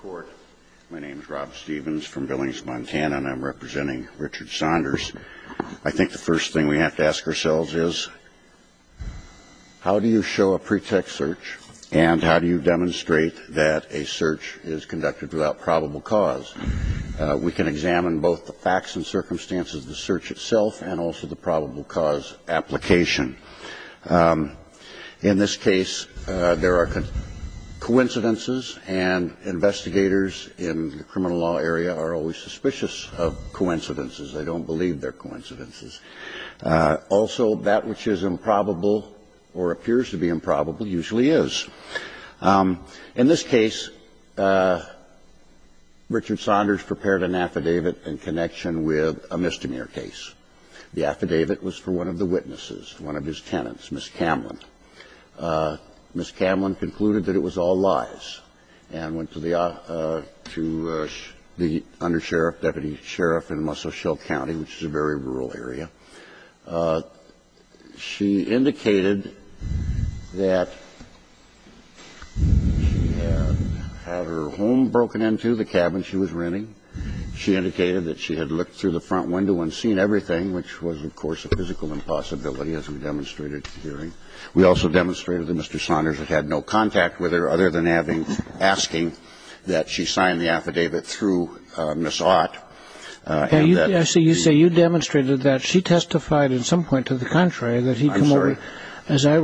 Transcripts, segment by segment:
Court. My name is Rob Stevens from Billings, Montana, and I'm representing Richard Saunders. I think the first thing we have to ask ourselves is, how do you show a pretext search and how do you demonstrate that a search is conducted without probable cause? We can examine both the facts and circumstances of the search itself and also the probable cause application. In this case, there are coincidences, and investigators in the criminal law area are always suspicious of coincidences. They don't believe they're coincidences. Also, that which is improbable or appears to be improbable usually is. In this case, Richard Saunders prepared an affidavit in connection with a misdemeanor case. The affidavit was for one of the witnesses, one of his tenants, Ms. Camlin. Ms. Camlin concluded that it was all lies and went to the under sheriff, deputy sheriff in Muscle Shell County, which is a very rural area. She indicated that she had had her home broken into, the cabin she was renting. She indicated that she had looked through the front window and seen everything, which was, of course, a physical impossibility, as we demonstrated here. We also demonstrated that Mr. Saunders had had no contact with her other than asking that she sign the affidavit through Ms. Ott. So you say you demonstrated that she testified at some point to the contrary, that he had come over. I'm sorry.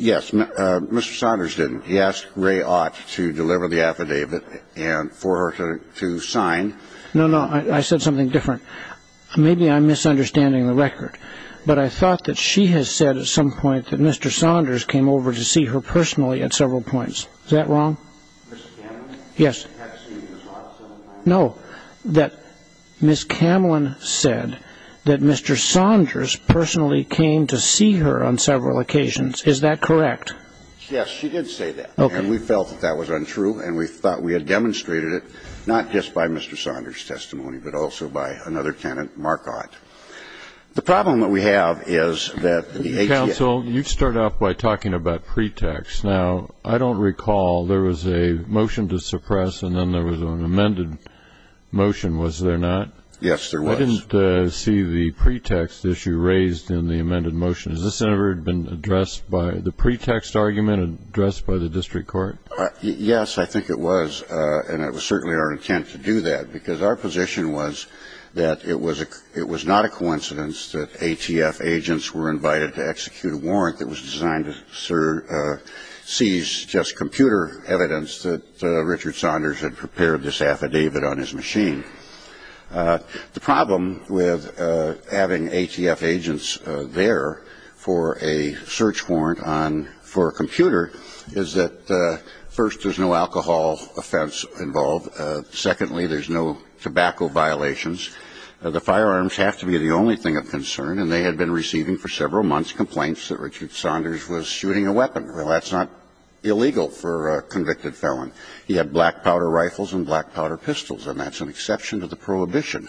Yes. Mr. Saunders didn't. He asked Ray Ott to deliver the affidavit and for her to sign. No, no. I said something different. Maybe I'm misunderstanding the record, but I thought that she had said at some point that Mr. Saunders came over to see her personally at several points. Is that wrong? Ms. Camlin? Yes. Had seen Ms. Ott at some point? No. That Ms. Camlin said that Mr. Saunders personally came to see her on several occasions. Is that correct? Yes. She did say that. Okay. And we felt that that was untrue, and we thought we had demonstrated it not just by Mr. Saunders' testimony, but also by another tenant, Mark Ott. The problem that we have is that the ATF ---- Counsel, you start off by talking about pretext. Now, I don't recall there was a motion to suppress and then there was an amended motion, was there not? Yes, there was. I didn't see the pretext issue raised in the amended motion. Has this ever been addressed by the pretext argument addressed by the district court? Yes, I think it was, and it was certainly our intent to do that, because our position was that it was not a coincidence that ATF agents were invited to execute a warrant that was designed to seize just computer evidence that Richard Saunders had prepared this affidavit on his machine. The problem with having ATF agents there for a search warrant on ---- for a computer is that, first, there's no alcohol offense involved. Secondly, there's no tobacco violations. The firearms have to be the only thing of concern, and they had been receiving for several months complaints that Richard Saunders was shooting a weapon. Well, that's not illegal for a convicted felon. He had black powder rifles and black powder pistols, and that's an exception to the prohibition.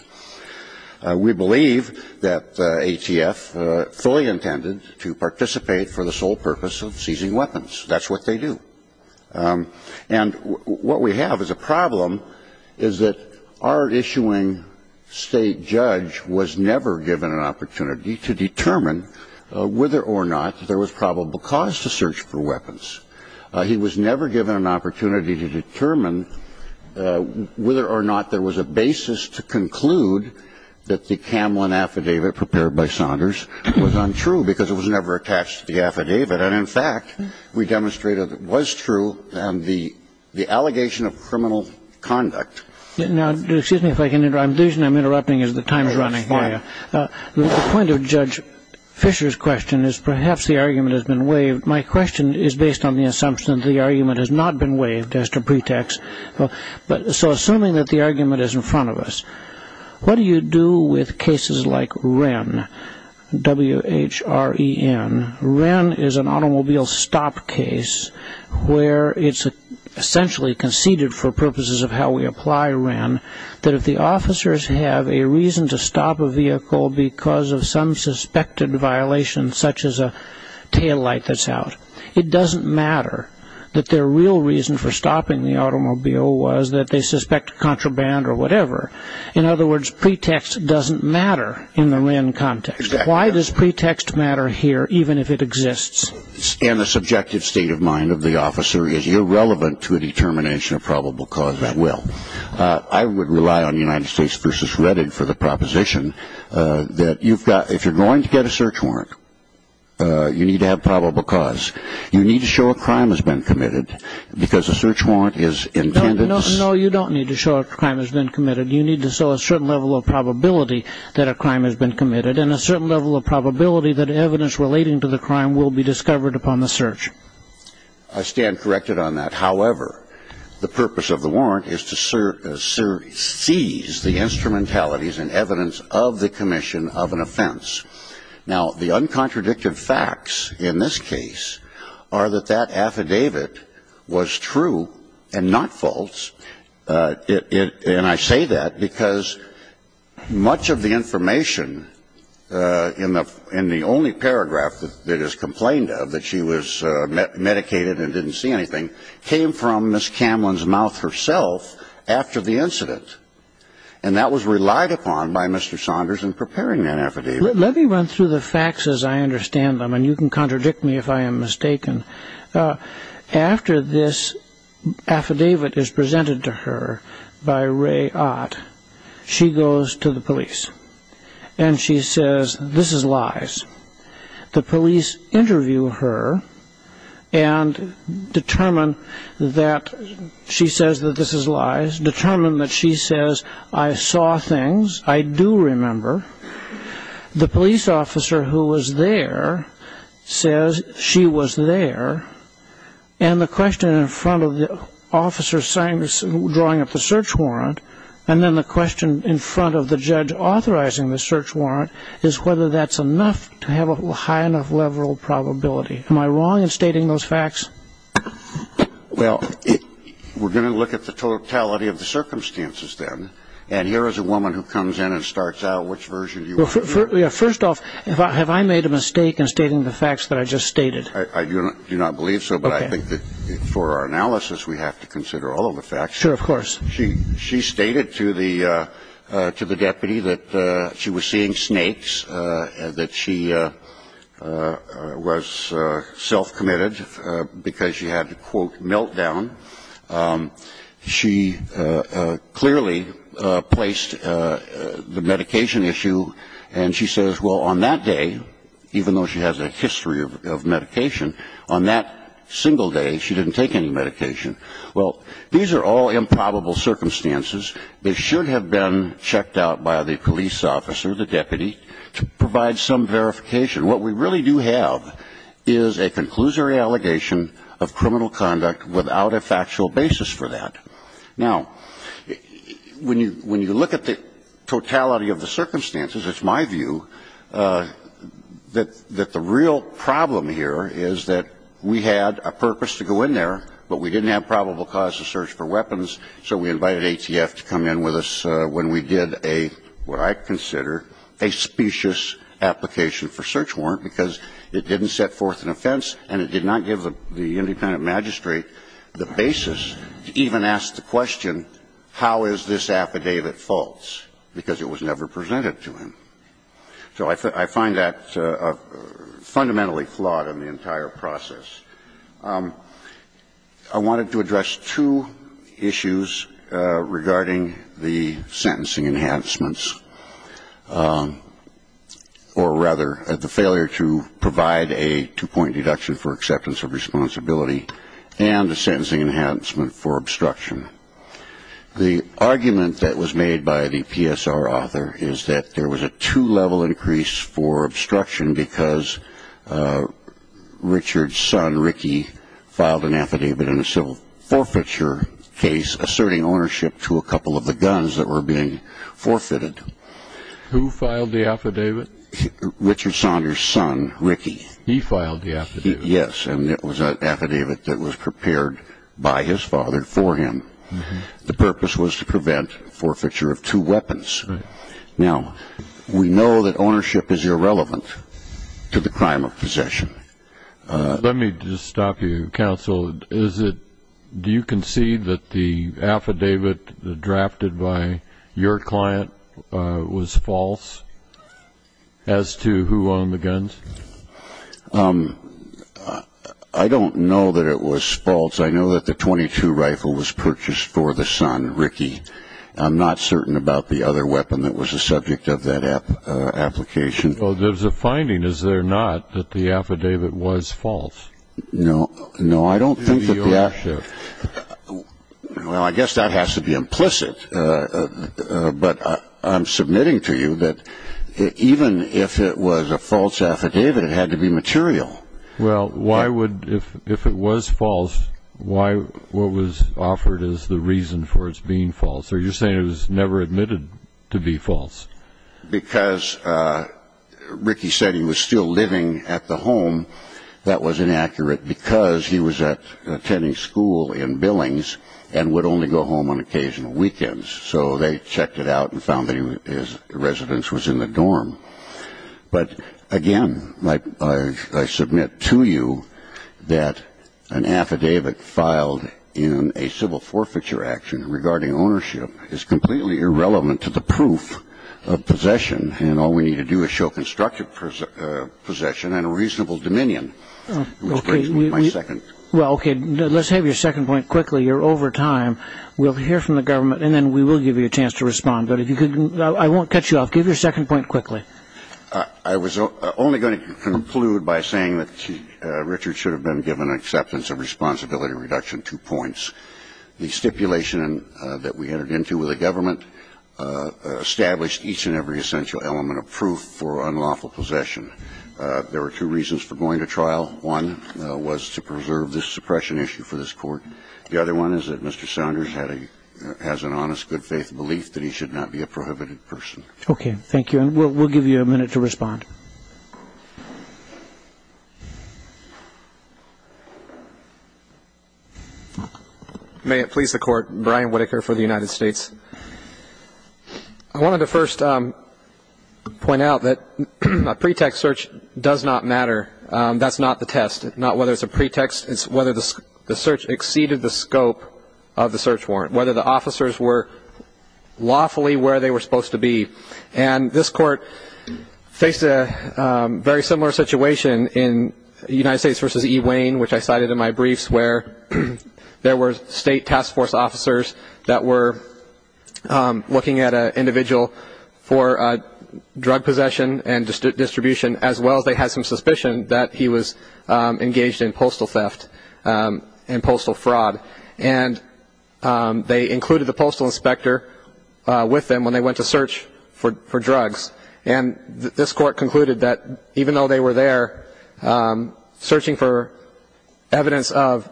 We believe that ATF fully intended to participate for the sole purpose of seizing weapons. That's what they do. And what we have as a problem is that our issuing State judge was never given an opportunity to determine whether or not there was probable cause to search for weapons. He was never given an opportunity to determine whether or not there was a basis to conclude that the Kamlan affidavit prepared by Saunders was untrue because it was never attached to the affidavit. And, in fact, we demonstrated it was true on the allegation of criminal conduct. Now, excuse me if I can interrupt. The reason I'm interrupting is the time is running. The point of Judge Fisher's question is perhaps the argument has been waived. My question is based on the assumption that the argument has not been waived as to pretext. So assuming that the argument is in front of us, what do you do with cases like Wren, W-H-R-E-N? Wren is an automobile stop case where it's essentially conceded for purposes of how we apply Wren that if the officers have a reason to stop a vehicle because of some suspected violation, such as a taillight that's out, it doesn't matter that their real reason for stopping the automobile was that they suspect a contraband or whatever. In other words, pretext doesn't matter in the Wren context. Why does pretext matter here even if it exists? And the subjective state of mind of the officer is irrelevant to a determination of probable cause at will. I would rely on United States v. Reddit for the proposition that if you're going to get a search warrant, you need to have probable cause. You need to show a crime has been committed because a search warrant is intended. No, you don't need to show a crime has been committed. You need to show a certain level of probability that a crime has been committed and a certain level of probability that evidence relating to the crime will be discovered upon the search. I stand corrected on that. However, the purpose of the warrant is to seize the instrumentalities and evidence of the commission of an offense. Now, the uncontradicted facts in this case are that that affidavit was true and not false. And I say that because much of the information in the only paragraph that is complained of, that she was medicated and didn't see anything, came from Ms. Camlin's mouth herself after the incident. And that was relied upon by Mr. Saunders in preparing that affidavit. Let me run through the facts as I understand them, and you can contradict me if I am mistaken. After this affidavit is presented to her by Ray Ott, she goes to the police and she says, this is lies. The police interview her and determine that she says that this is lies, determine that she says, I saw things, I do remember. The police officer who was there says she was there. And the question in front of the officer drawing up the search warrant, and then the question in front of the judge authorizing the search warrant, is whether that's enough to have a high enough level of probability. Am I wrong in stating those facts? Well, we're going to look at the totality of the circumstances then, and here is a woman who comes in and starts out, which version do you want? First off, have I made a mistake in stating the facts that I just stated? I do not believe so, but I think that for our analysis we have to consider all of the facts. Sure, of course. She stated to the deputy that she was seeing snakes, that she was self-committed because she had a, quote, meltdown. She clearly placed the medication issue, and she says, well, on that day, even though she has a history of medication, on that single day she didn't take any medication. Well, these are all improbable circumstances. They should have been checked out by the police officer, the deputy, to provide some verification. What we really do have is a conclusory allegation of criminal conduct without a factual basis for that. Now, when you look at the totality of the circumstances, it's my view that the real problem here is that we had a purpose to go in there, but we didn't have probable cause to search for weapons, so we invited ATF to come in with us when we did a, what I consider, a specious application for search warrant, because it didn't set forth an offense and it did not give the independent magistrate the basis to even ask the question, how is this affidavit false, because it was never presented to him. So I find that fundamentally flawed in the entire process. I wanted to address two issues regarding the sentencing enhancements, or rather the failure to provide a two-point deduction for acceptance of responsibility and a sentencing enhancement for obstruction. The argument that was made by the PSR author is that there was a two-level increase for obstruction because Richard's son, Ricky, filed an affidavit in a civil forfeiture case asserting ownership to a couple of the guns that were being forfeited. Who filed the affidavit? Richard Saunders' son, Ricky. He filed the affidavit? Yes, and it was an affidavit that was prepared by his father for him. The purpose was to prevent forfeiture of two weapons. Now, we know that ownership is irrelevant to the crime of possession. Let me just stop you, counsel. Do you concede that the affidavit drafted by your client was false as to who owned the guns? I don't know that it was false. I know that the .22 rifle was purchased for the son, Ricky. I'm not certain about the other weapon that was the subject of that application. Well, there's a finding, is there not, that the affidavit was false? No. No, I don't think that the affidavit. Well, I guess that has to be implicit. But I'm submitting to you that even if it was a false affidavit, it had to be material. Well, why would, if it was false, why what was offered as the reason for its being false? Are you saying it was never admitted to be false? Because Ricky said he was still living at the home. That was inaccurate because he was attending school in Billings and would only go home on occasional weekends. So they checked it out and found that his residence was in the dorm. But, again, I submit to you that an affidavit filed in a civil forfeiture action regarding ownership is completely irrelevant to the proof of possession, and all we need to do is show constructive possession and a reasonable dominion, which brings me to my second. Well, okay. Let's have your second point quickly. You're over time. We'll hear from the government, and then we will give you a chance to respond. But if you could, I won't cut you off. Give your second point quickly. I was only going to conclude by saying that Richard should have been given an acceptance of responsibility reduction, two points. The first one is that Mr. Saunders has an honest, good-faith belief that he should not be a prohibited person. The second one is that Mr. Saunders has an honest, good-faith belief that he should not be a prohibited person. The stipulation that we entered into with the government established each and every essential element of proof for unlawful possession. There were two reasons for going to trial. One was to preserve the suppression issue for this Court. The other one is that Mr. Saunders has an honest, good-faith belief that he should not be a prohibited person. Okay. Thank you. And we'll give you a minute to respond. May it please the Court. Brian Whitaker for the United States. I wanted to first point out that a pretext search does not matter. That's not the test. It's not whether it's a pretext. It's whether the search exceeded the scope of the search warrant, whether the officers were lawfully where they were supposed to be. And this Court faced a very similar situation in United States v. E. Wayne, which I cited in my briefs where there were State Task Force officers that were looking at an individual for drug possession and distribution as well as they had some suspicion that he was engaged in postal theft and postal fraud. And they included the postal inspector with them when they went to search for drugs. And this Court concluded that even though they were there searching for evidence of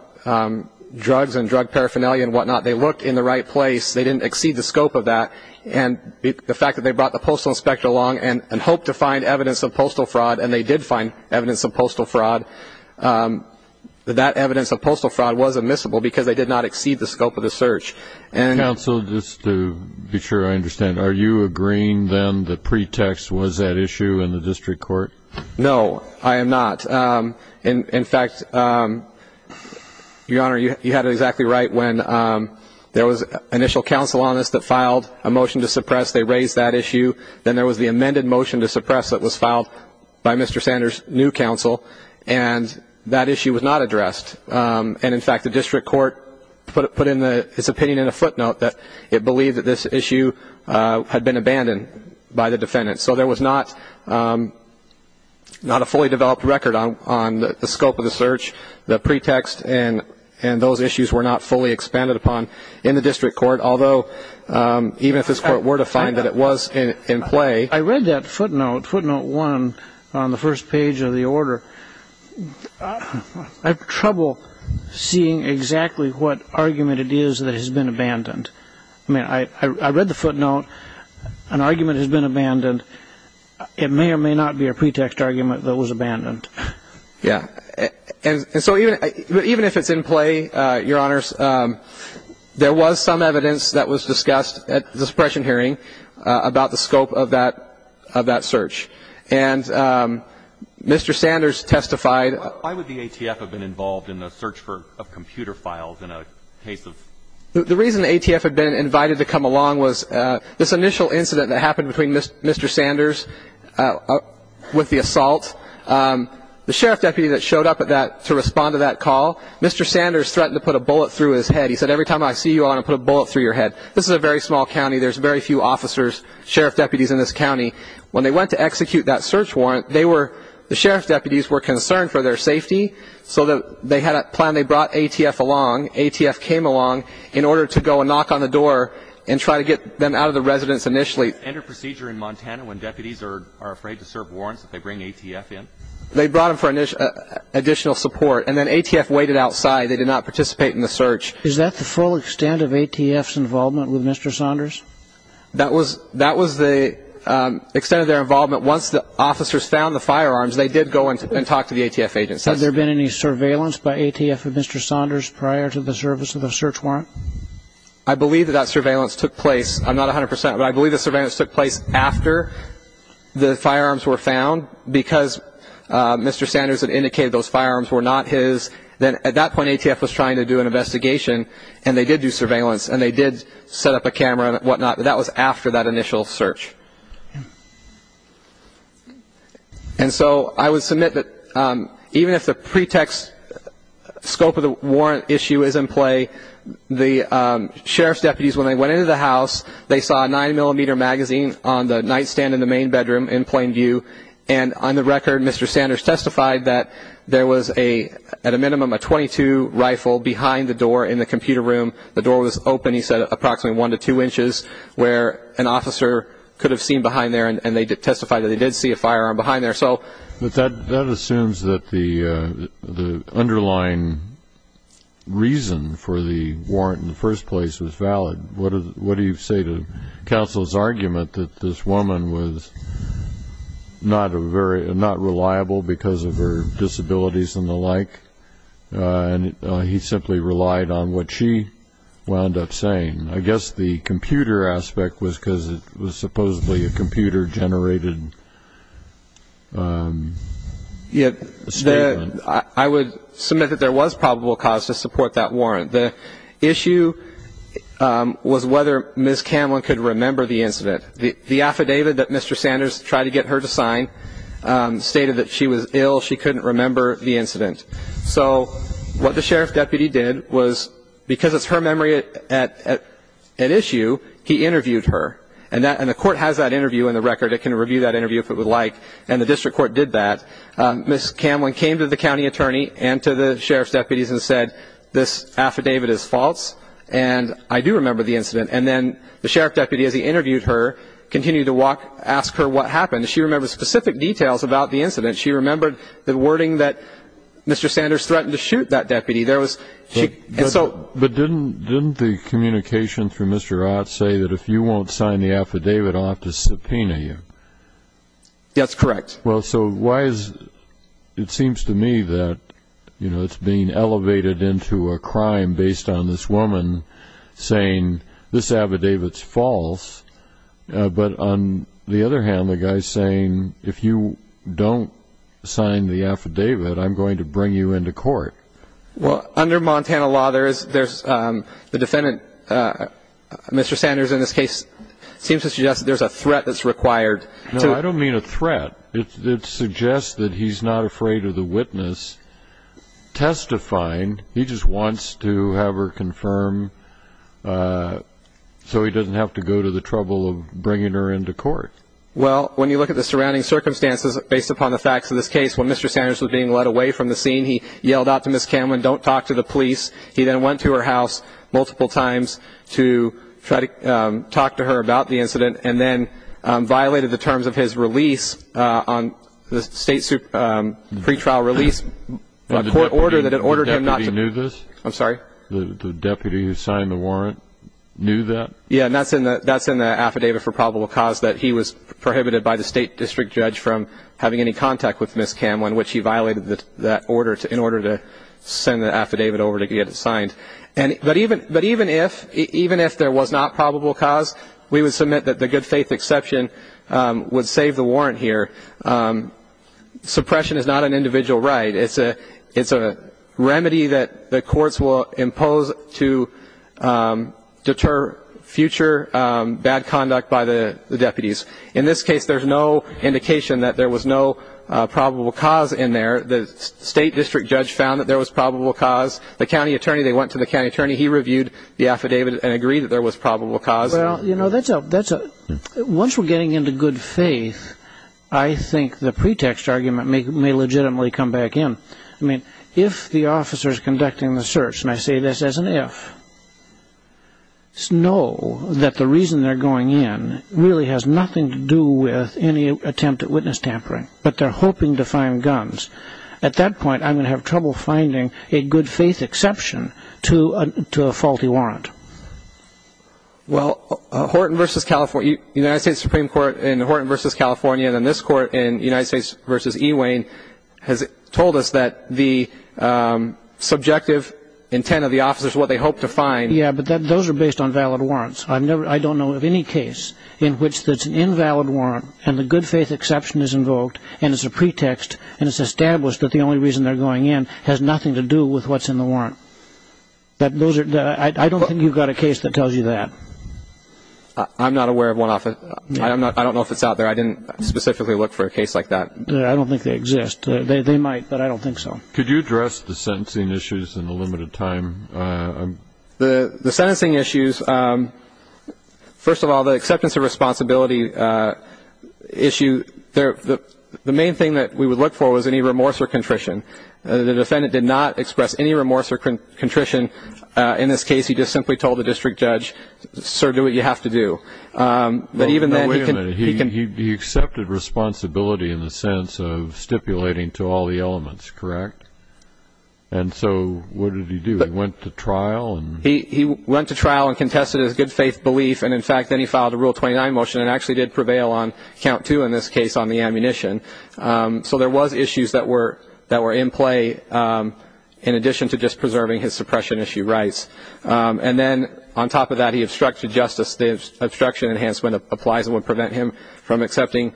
drugs and drug paraphernalia and whatnot, they looked in the right place. They didn't exceed the scope of that. And the fact that they brought the postal inspector along and hoped to find evidence of postal fraud, and they did find evidence of postal fraud, that that evidence of postal fraud was admissible because they did not exceed the scope of the search. Counsel, just to be sure I understand, are you agreeing then that pretext was at issue in the district court? No, I am not. In fact, Your Honor, you had it exactly right when there was initial counsel on this that filed a motion to suppress. They raised that issue. Then there was the amended motion to suppress that was filed by Mr. Sanders' new counsel. And that issue was not addressed. And, in fact, the district court put its opinion in a footnote that it believed that this issue had been abandoned by the defendant. So there was not a fully developed record on the scope of the search. The pretext and those issues were not fully expanded upon in the district court, although even if this court were to find that it was in play. I read that footnote, footnote one, on the first page of the order. I have trouble seeing exactly what argument it is that has been abandoned. I mean, I read the footnote. An argument has been abandoned. It may or may not be a pretext argument that was abandoned. Yeah. And so even if it's in play, Your Honors, there was some evidence that was discussed at the suppression hearing about the scope of that search. And Mr. Sanders testified. Why would the ATF have been involved in the search for computer files in a case of? The reason the ATF had been invited to come along was this initial incident that happened between Mr. Sanders with the assault. The sheriff deputy that showed up to respond to that call, Mr. Sanders threatened to put a bullet through his head. He said, Every time I see you, I want to put a bullet through your head. This is a very small county. There's very few officers, sheriff deputies in this county. When they went to execute that search warrant, the sheriff deputies were concerned for their safety. So they had a plan. They brought ATF along. ATF came along in order to go and knock on the door and try to get them out of the residence initially. Is there a procedure in Montana when deputies are afraid to serve warrants that they bring ATF in? They brought them for additional support. And then ATF waited outside. They did not participate in the search. Is that the full extent of ATF's involvement with Mr. Sanders? That was the extent of their involvement. Once the officers found the firearms, they did go and talk to the ATF agents. Has there been any surveillance by ATF of Mr. Sanders prior to the service of the search warrant? I believe that that surveillance took place. I'm not 100 percent, but I believe the surveillance took place after the firearms were found, because Mr. Sanders had indicated those firearms were not his. Then at that point, ATF was trying to do an investigation, and they did do surveillance, and they did set up a camera and whatnot, but that was after that initial search. And so I would submit that even if the pretext scope of the warrant issue is in play, the sheriff's deputies, when they went into the house, they saw a 9-millimeter magazine on the nightstand in the main bedroom in plain view, and on the record, Mr. Sanders testified that there was at a minimum a .22 rifle behind the door in the computer room. The door was open, he said, approximately one to two inches, where an officer could have seen behind there, and they testified that they did see a firearm behind there. But that assumes that the underlying reason for the warrant in the first place was valid. What do you say to counsel's argument that this woman was not reliable because of her disabilities and the like, and he simply relied on what she wound up saying? I guess the computer aspect was because it was supposedly a computer-generated statement. I would submit that there was probable cause to support that warrant. The issue was whether Ms. Cameron could remember the incident. The affidavit that Mr. Sanders tried to get her to sign stated that she was ill, she couldn't remember the incident. So what the sheriff's deputy did was, because it's her memory at issue, he interviewed her. And the court has that interview in the record. It can review that interview if it would like, and the district court did that. Ms. Cameron came to the county attorney and to the sheriff's deputies and said, this affidavit is false, and I do remember the incident. And then the sheriff's deputy, as he interviewed her, continued to ask her what happened. She remembered specific details about the incident. She remembered the wording that Mr. Sanders threatened to shoot that deputy. But didn't the communication from Mr. Ott say that if you won't sign the affidavit, I'll have to subpoena you? That's correct. Well, so why is it seems to me that, you know, it's being elevated into a crime based on this woman saying this affidavit's false, but on the other hand, the guy's saying, if you don't sign the affidavit, I'm going to bring you into court. Well, under Montana law, there's the defendant, Mr. Sanders, in this case, seems to suggest that there's a threat that's required. No, I don't mean a threat. It suggests that he's not afraid of the witness testifying. He just wants to have her confirmed so he doesn't have to go to the trouble of bringing her into court. Well, when you look at the surrounding circumstances based upon the facts of this case, when Mr. Sanders was being led away from the scene, he yelled out to Ms. Cameron, don't talk to the police. He then went to her house multiple times to try to talk to her about the incident and then violated the terms of his release on the state pretrial release court order that ordered him not to. The deputy knew this? I'm sorry? The deputy who signed the warrant knew that? Yeah, and that's in the affidavit for probable cause that he was prohibited by the state district judge from having any contact with Ms. Cameron, which he violated that order in order to send the affidavit over to get it signed. But even if there was not probable cause, we would submit that the good faith exception would save the warrant here. Suppression is not an individual right. It's a remedy that the courts will impose to deter future bad conduct by the deputies. In this case, there's no indication that there was no probable cause in there. The state district judge found that there was probable cause. The county attorney, they went to the county attorney. He reviewed the affidavit and agreed that there was probable cause. Well, you know, once we're getting into good faith, I think the pretext argument may legitimately come back in. I mean, if the officer is conducting the search, and I say this as an if, know that the reason they're going in really has nothing to do with any attempt at witness tampering, but they're hoping to find guns. At that point, I'm going to have trouble finding a good faith exception to a faulty warrant. Well, Horton v. California, United States Supreme Court in Horton v. California, and then this court in United States v. E. Wayne has told us that the subjective intent of the officers, what they hope to find. Yeah, but those are based on valid warrants. I don't know of any case in which there's an invalid warrant, and the good faith exception is invoked, and it's a pretext, and it's established that the only reason they're going in has nothing to do with what's in the warrant. I don't think you've got a case that tells you that. I'm not aware of one. I don't know if it's out there. I didn't specifically look for a case like that. I don't think they exist. They might, but I don't think so. Could you address the sentencing issues in the limited time? The sentencing issues, first of all, the acceptance of responsibility issue, the main thing that we would look for was any remorse or contrition. The defendant did not express any remorse or contrition in this case. He just simply told the district judge, sir, do what you have to do. But even then, he can be accepted responsibility in the sense of stipulating to all the elements, correct? And so what did he do? He went to trial? He went to trial and contested his good faith belief, and, in fact, then he filed a Rule 29 motion and actually did prevail on count two in this case on the ammunition. So there was issues that were in play in addition to just preserving his suppression issue rights. And then on top of that, he obstructed justice. The obstruction enhancement applies and would prevent him from getting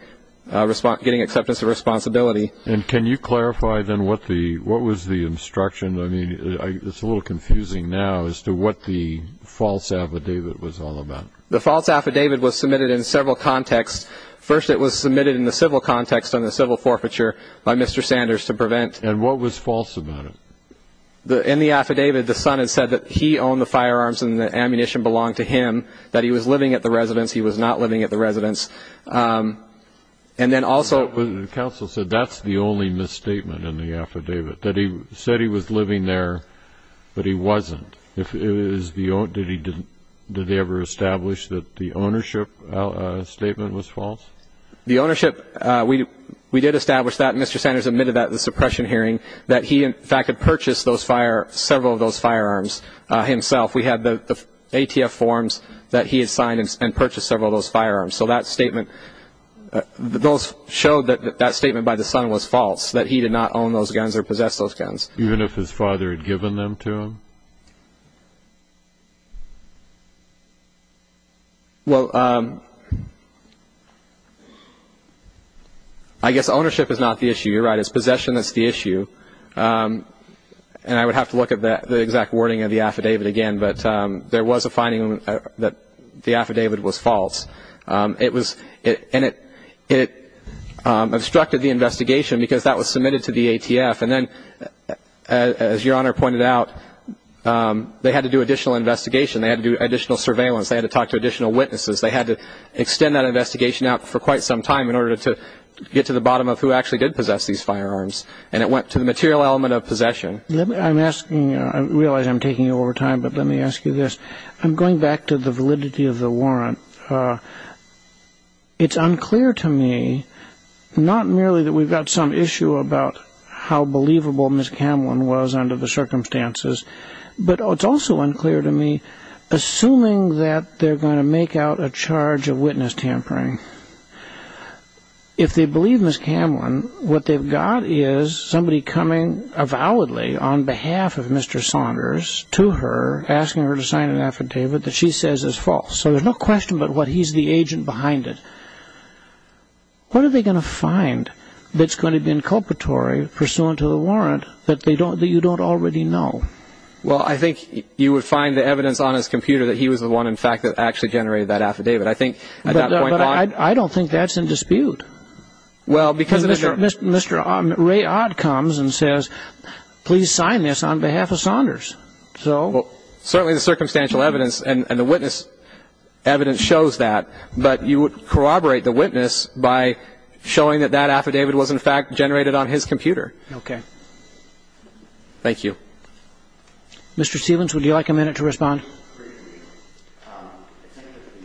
acceptance of responsibility. And can you clarify then what was the obstruction? I mean, it's a little confusing now as to what the false affidavit was all about. The false affidavit was submitted in several contexts. First, it was submitted in the civil context on the civil forfeiture by Mr. Sanders to prevent. And what was false about it? In the affidavit, the son had said that he owned the firearms and the ammunition belonged to him, that he was living at the residence. He was not living at the residence. And then also the counsel said that's the only misstatement in the affidavit, that he said he was living there, but he wasn't. Did they ever establish that the ownership statement was false? The ownership, we did establish that. Mr. Sanders admitted that at the suppression hearing, that he, in fact, had purchased several of those firearms himself. We had the ATF forms that he had signed and purchased several of those firearms. So that statement, those showed that that statement by the son was false, that he did not own those guns or possess those guns. Even if his father had given them to him? Well, I guess ownership is not the issue. You're right. It's possession that's the issue. And I would have to look at the exact wording of the affidavit again, but there was a finding that the affidavit was false. And it obstructed the investigation because that was submitted to the ATF. And then, as Your Honor pointed out, they had to do additional investigation. They had to do additional surveillance. They had to talk to additional witnesses. They had to extend that investigation out for quite some time in order to get to the bottom of who actually did possess these firearms. And it went to the material element of possession. I'm asking, I realize I'm taking over time, but let me ask you this. I'm going back to the validity of the warrant. It's unclear to me, not merely that we've got some issue about how believable Ms. Camlin was under the circumstances, but it's also unclear to me, assuming that they're going to make out a charge of witness tampering, if they believe Ms. Camlin, what they've got is somebody coming avowedly on behalf of Mr. Saunders to her, asking her to sign an affidavit that she says is false. So there's no question about what he's the agent behind it. What are they going to find that's going to be inculpatory pursuant to the warrant that you don't already know? Well, I think you would find the evidence on his computer that he was the one, in fact, that actually generated that affidavit. I think at that point on – But I don't think that's in dispute. Well, because – Mr. Ray Odd comes and says, please sign this on behalf of Saunders. So – Well, certainly the circumstantial evidence and the witness evidence shows that, but you would corroborate the witness by showing that that affidavit was, in fact, generated on his computer. Okay. Thank you. Mr. Stephens, would you like a minute to respond? I think that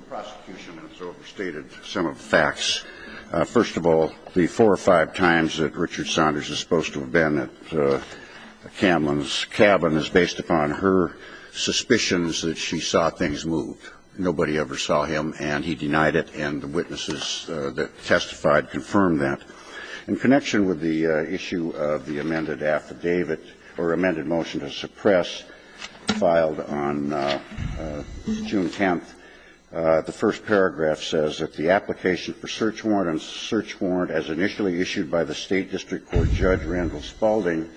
the prosecution has overstated some of the facts. First of all, the four or five times that Richard Saunders is supposed to have been at Camlin's cabin is based upon her suspicions that she saw things move. Nobody ever saw him, and he denied it, and the witnesses that testified confirmed that. In connection with the issue of the amended affidavit or amended motion to suppress filed on June 10th, the first paragraph says that the application for search warrant as initially issued by the State District Court Judge Randall Spaulding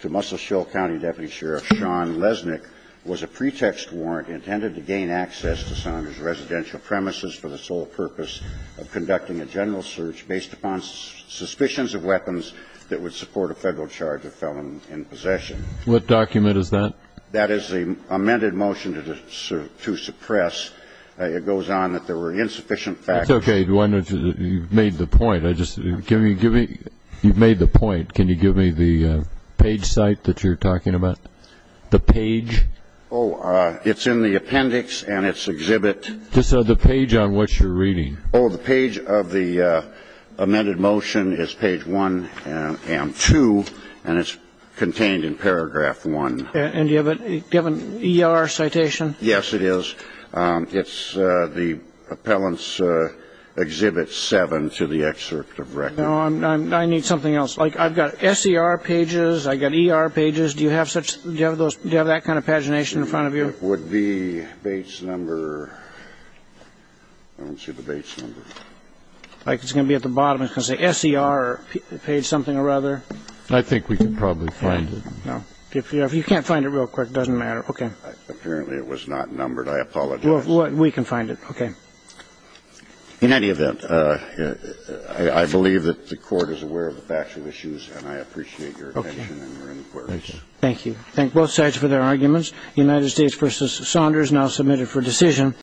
to Muscle Shoal County Deputy Sheriff Shawn Lesnick was a pretext warrant intended to gain access to Saunders' residential premises for the sole purpose of conducting a general search based upon suspicions of weapons that would support a Federal charge of felon in possession. What document is that? That is the amended motion to suppress. It goes on that there were insufficient facts. That's okay. You've made the point. You've made the point. Can you give me the page site that you're talking about, the page? Oh, it's in the appendix, and it's exhibit. This is the page on which you're reading. Oh, the page of the amended motion is page 1 and 2, and it's contained in paragraph 1. And do you have an ER citation? Yes, it is. It's the appellant's exhibit 7 to the excerpt of record. No, I need something else. Like, I've got SER pages. I've got ER pages. Do you have that kind of pagination in front of you? It would be Bates number. I don't see the Bates number. It's going to be at the bottom. It's going to say SER page something or other. I think we can probably find it. No. If you can't find it real quick, it doesn't matter. Okay. Apparently it was not numbered. I apologize. We can find it. Okay. In any event, I believe that the Court is aware of the factual issues, and I appreciate your attention and your inquiry. Thank you. Thank you. Thank both sides for their arguments. United States v. Saunders now submitted for decision.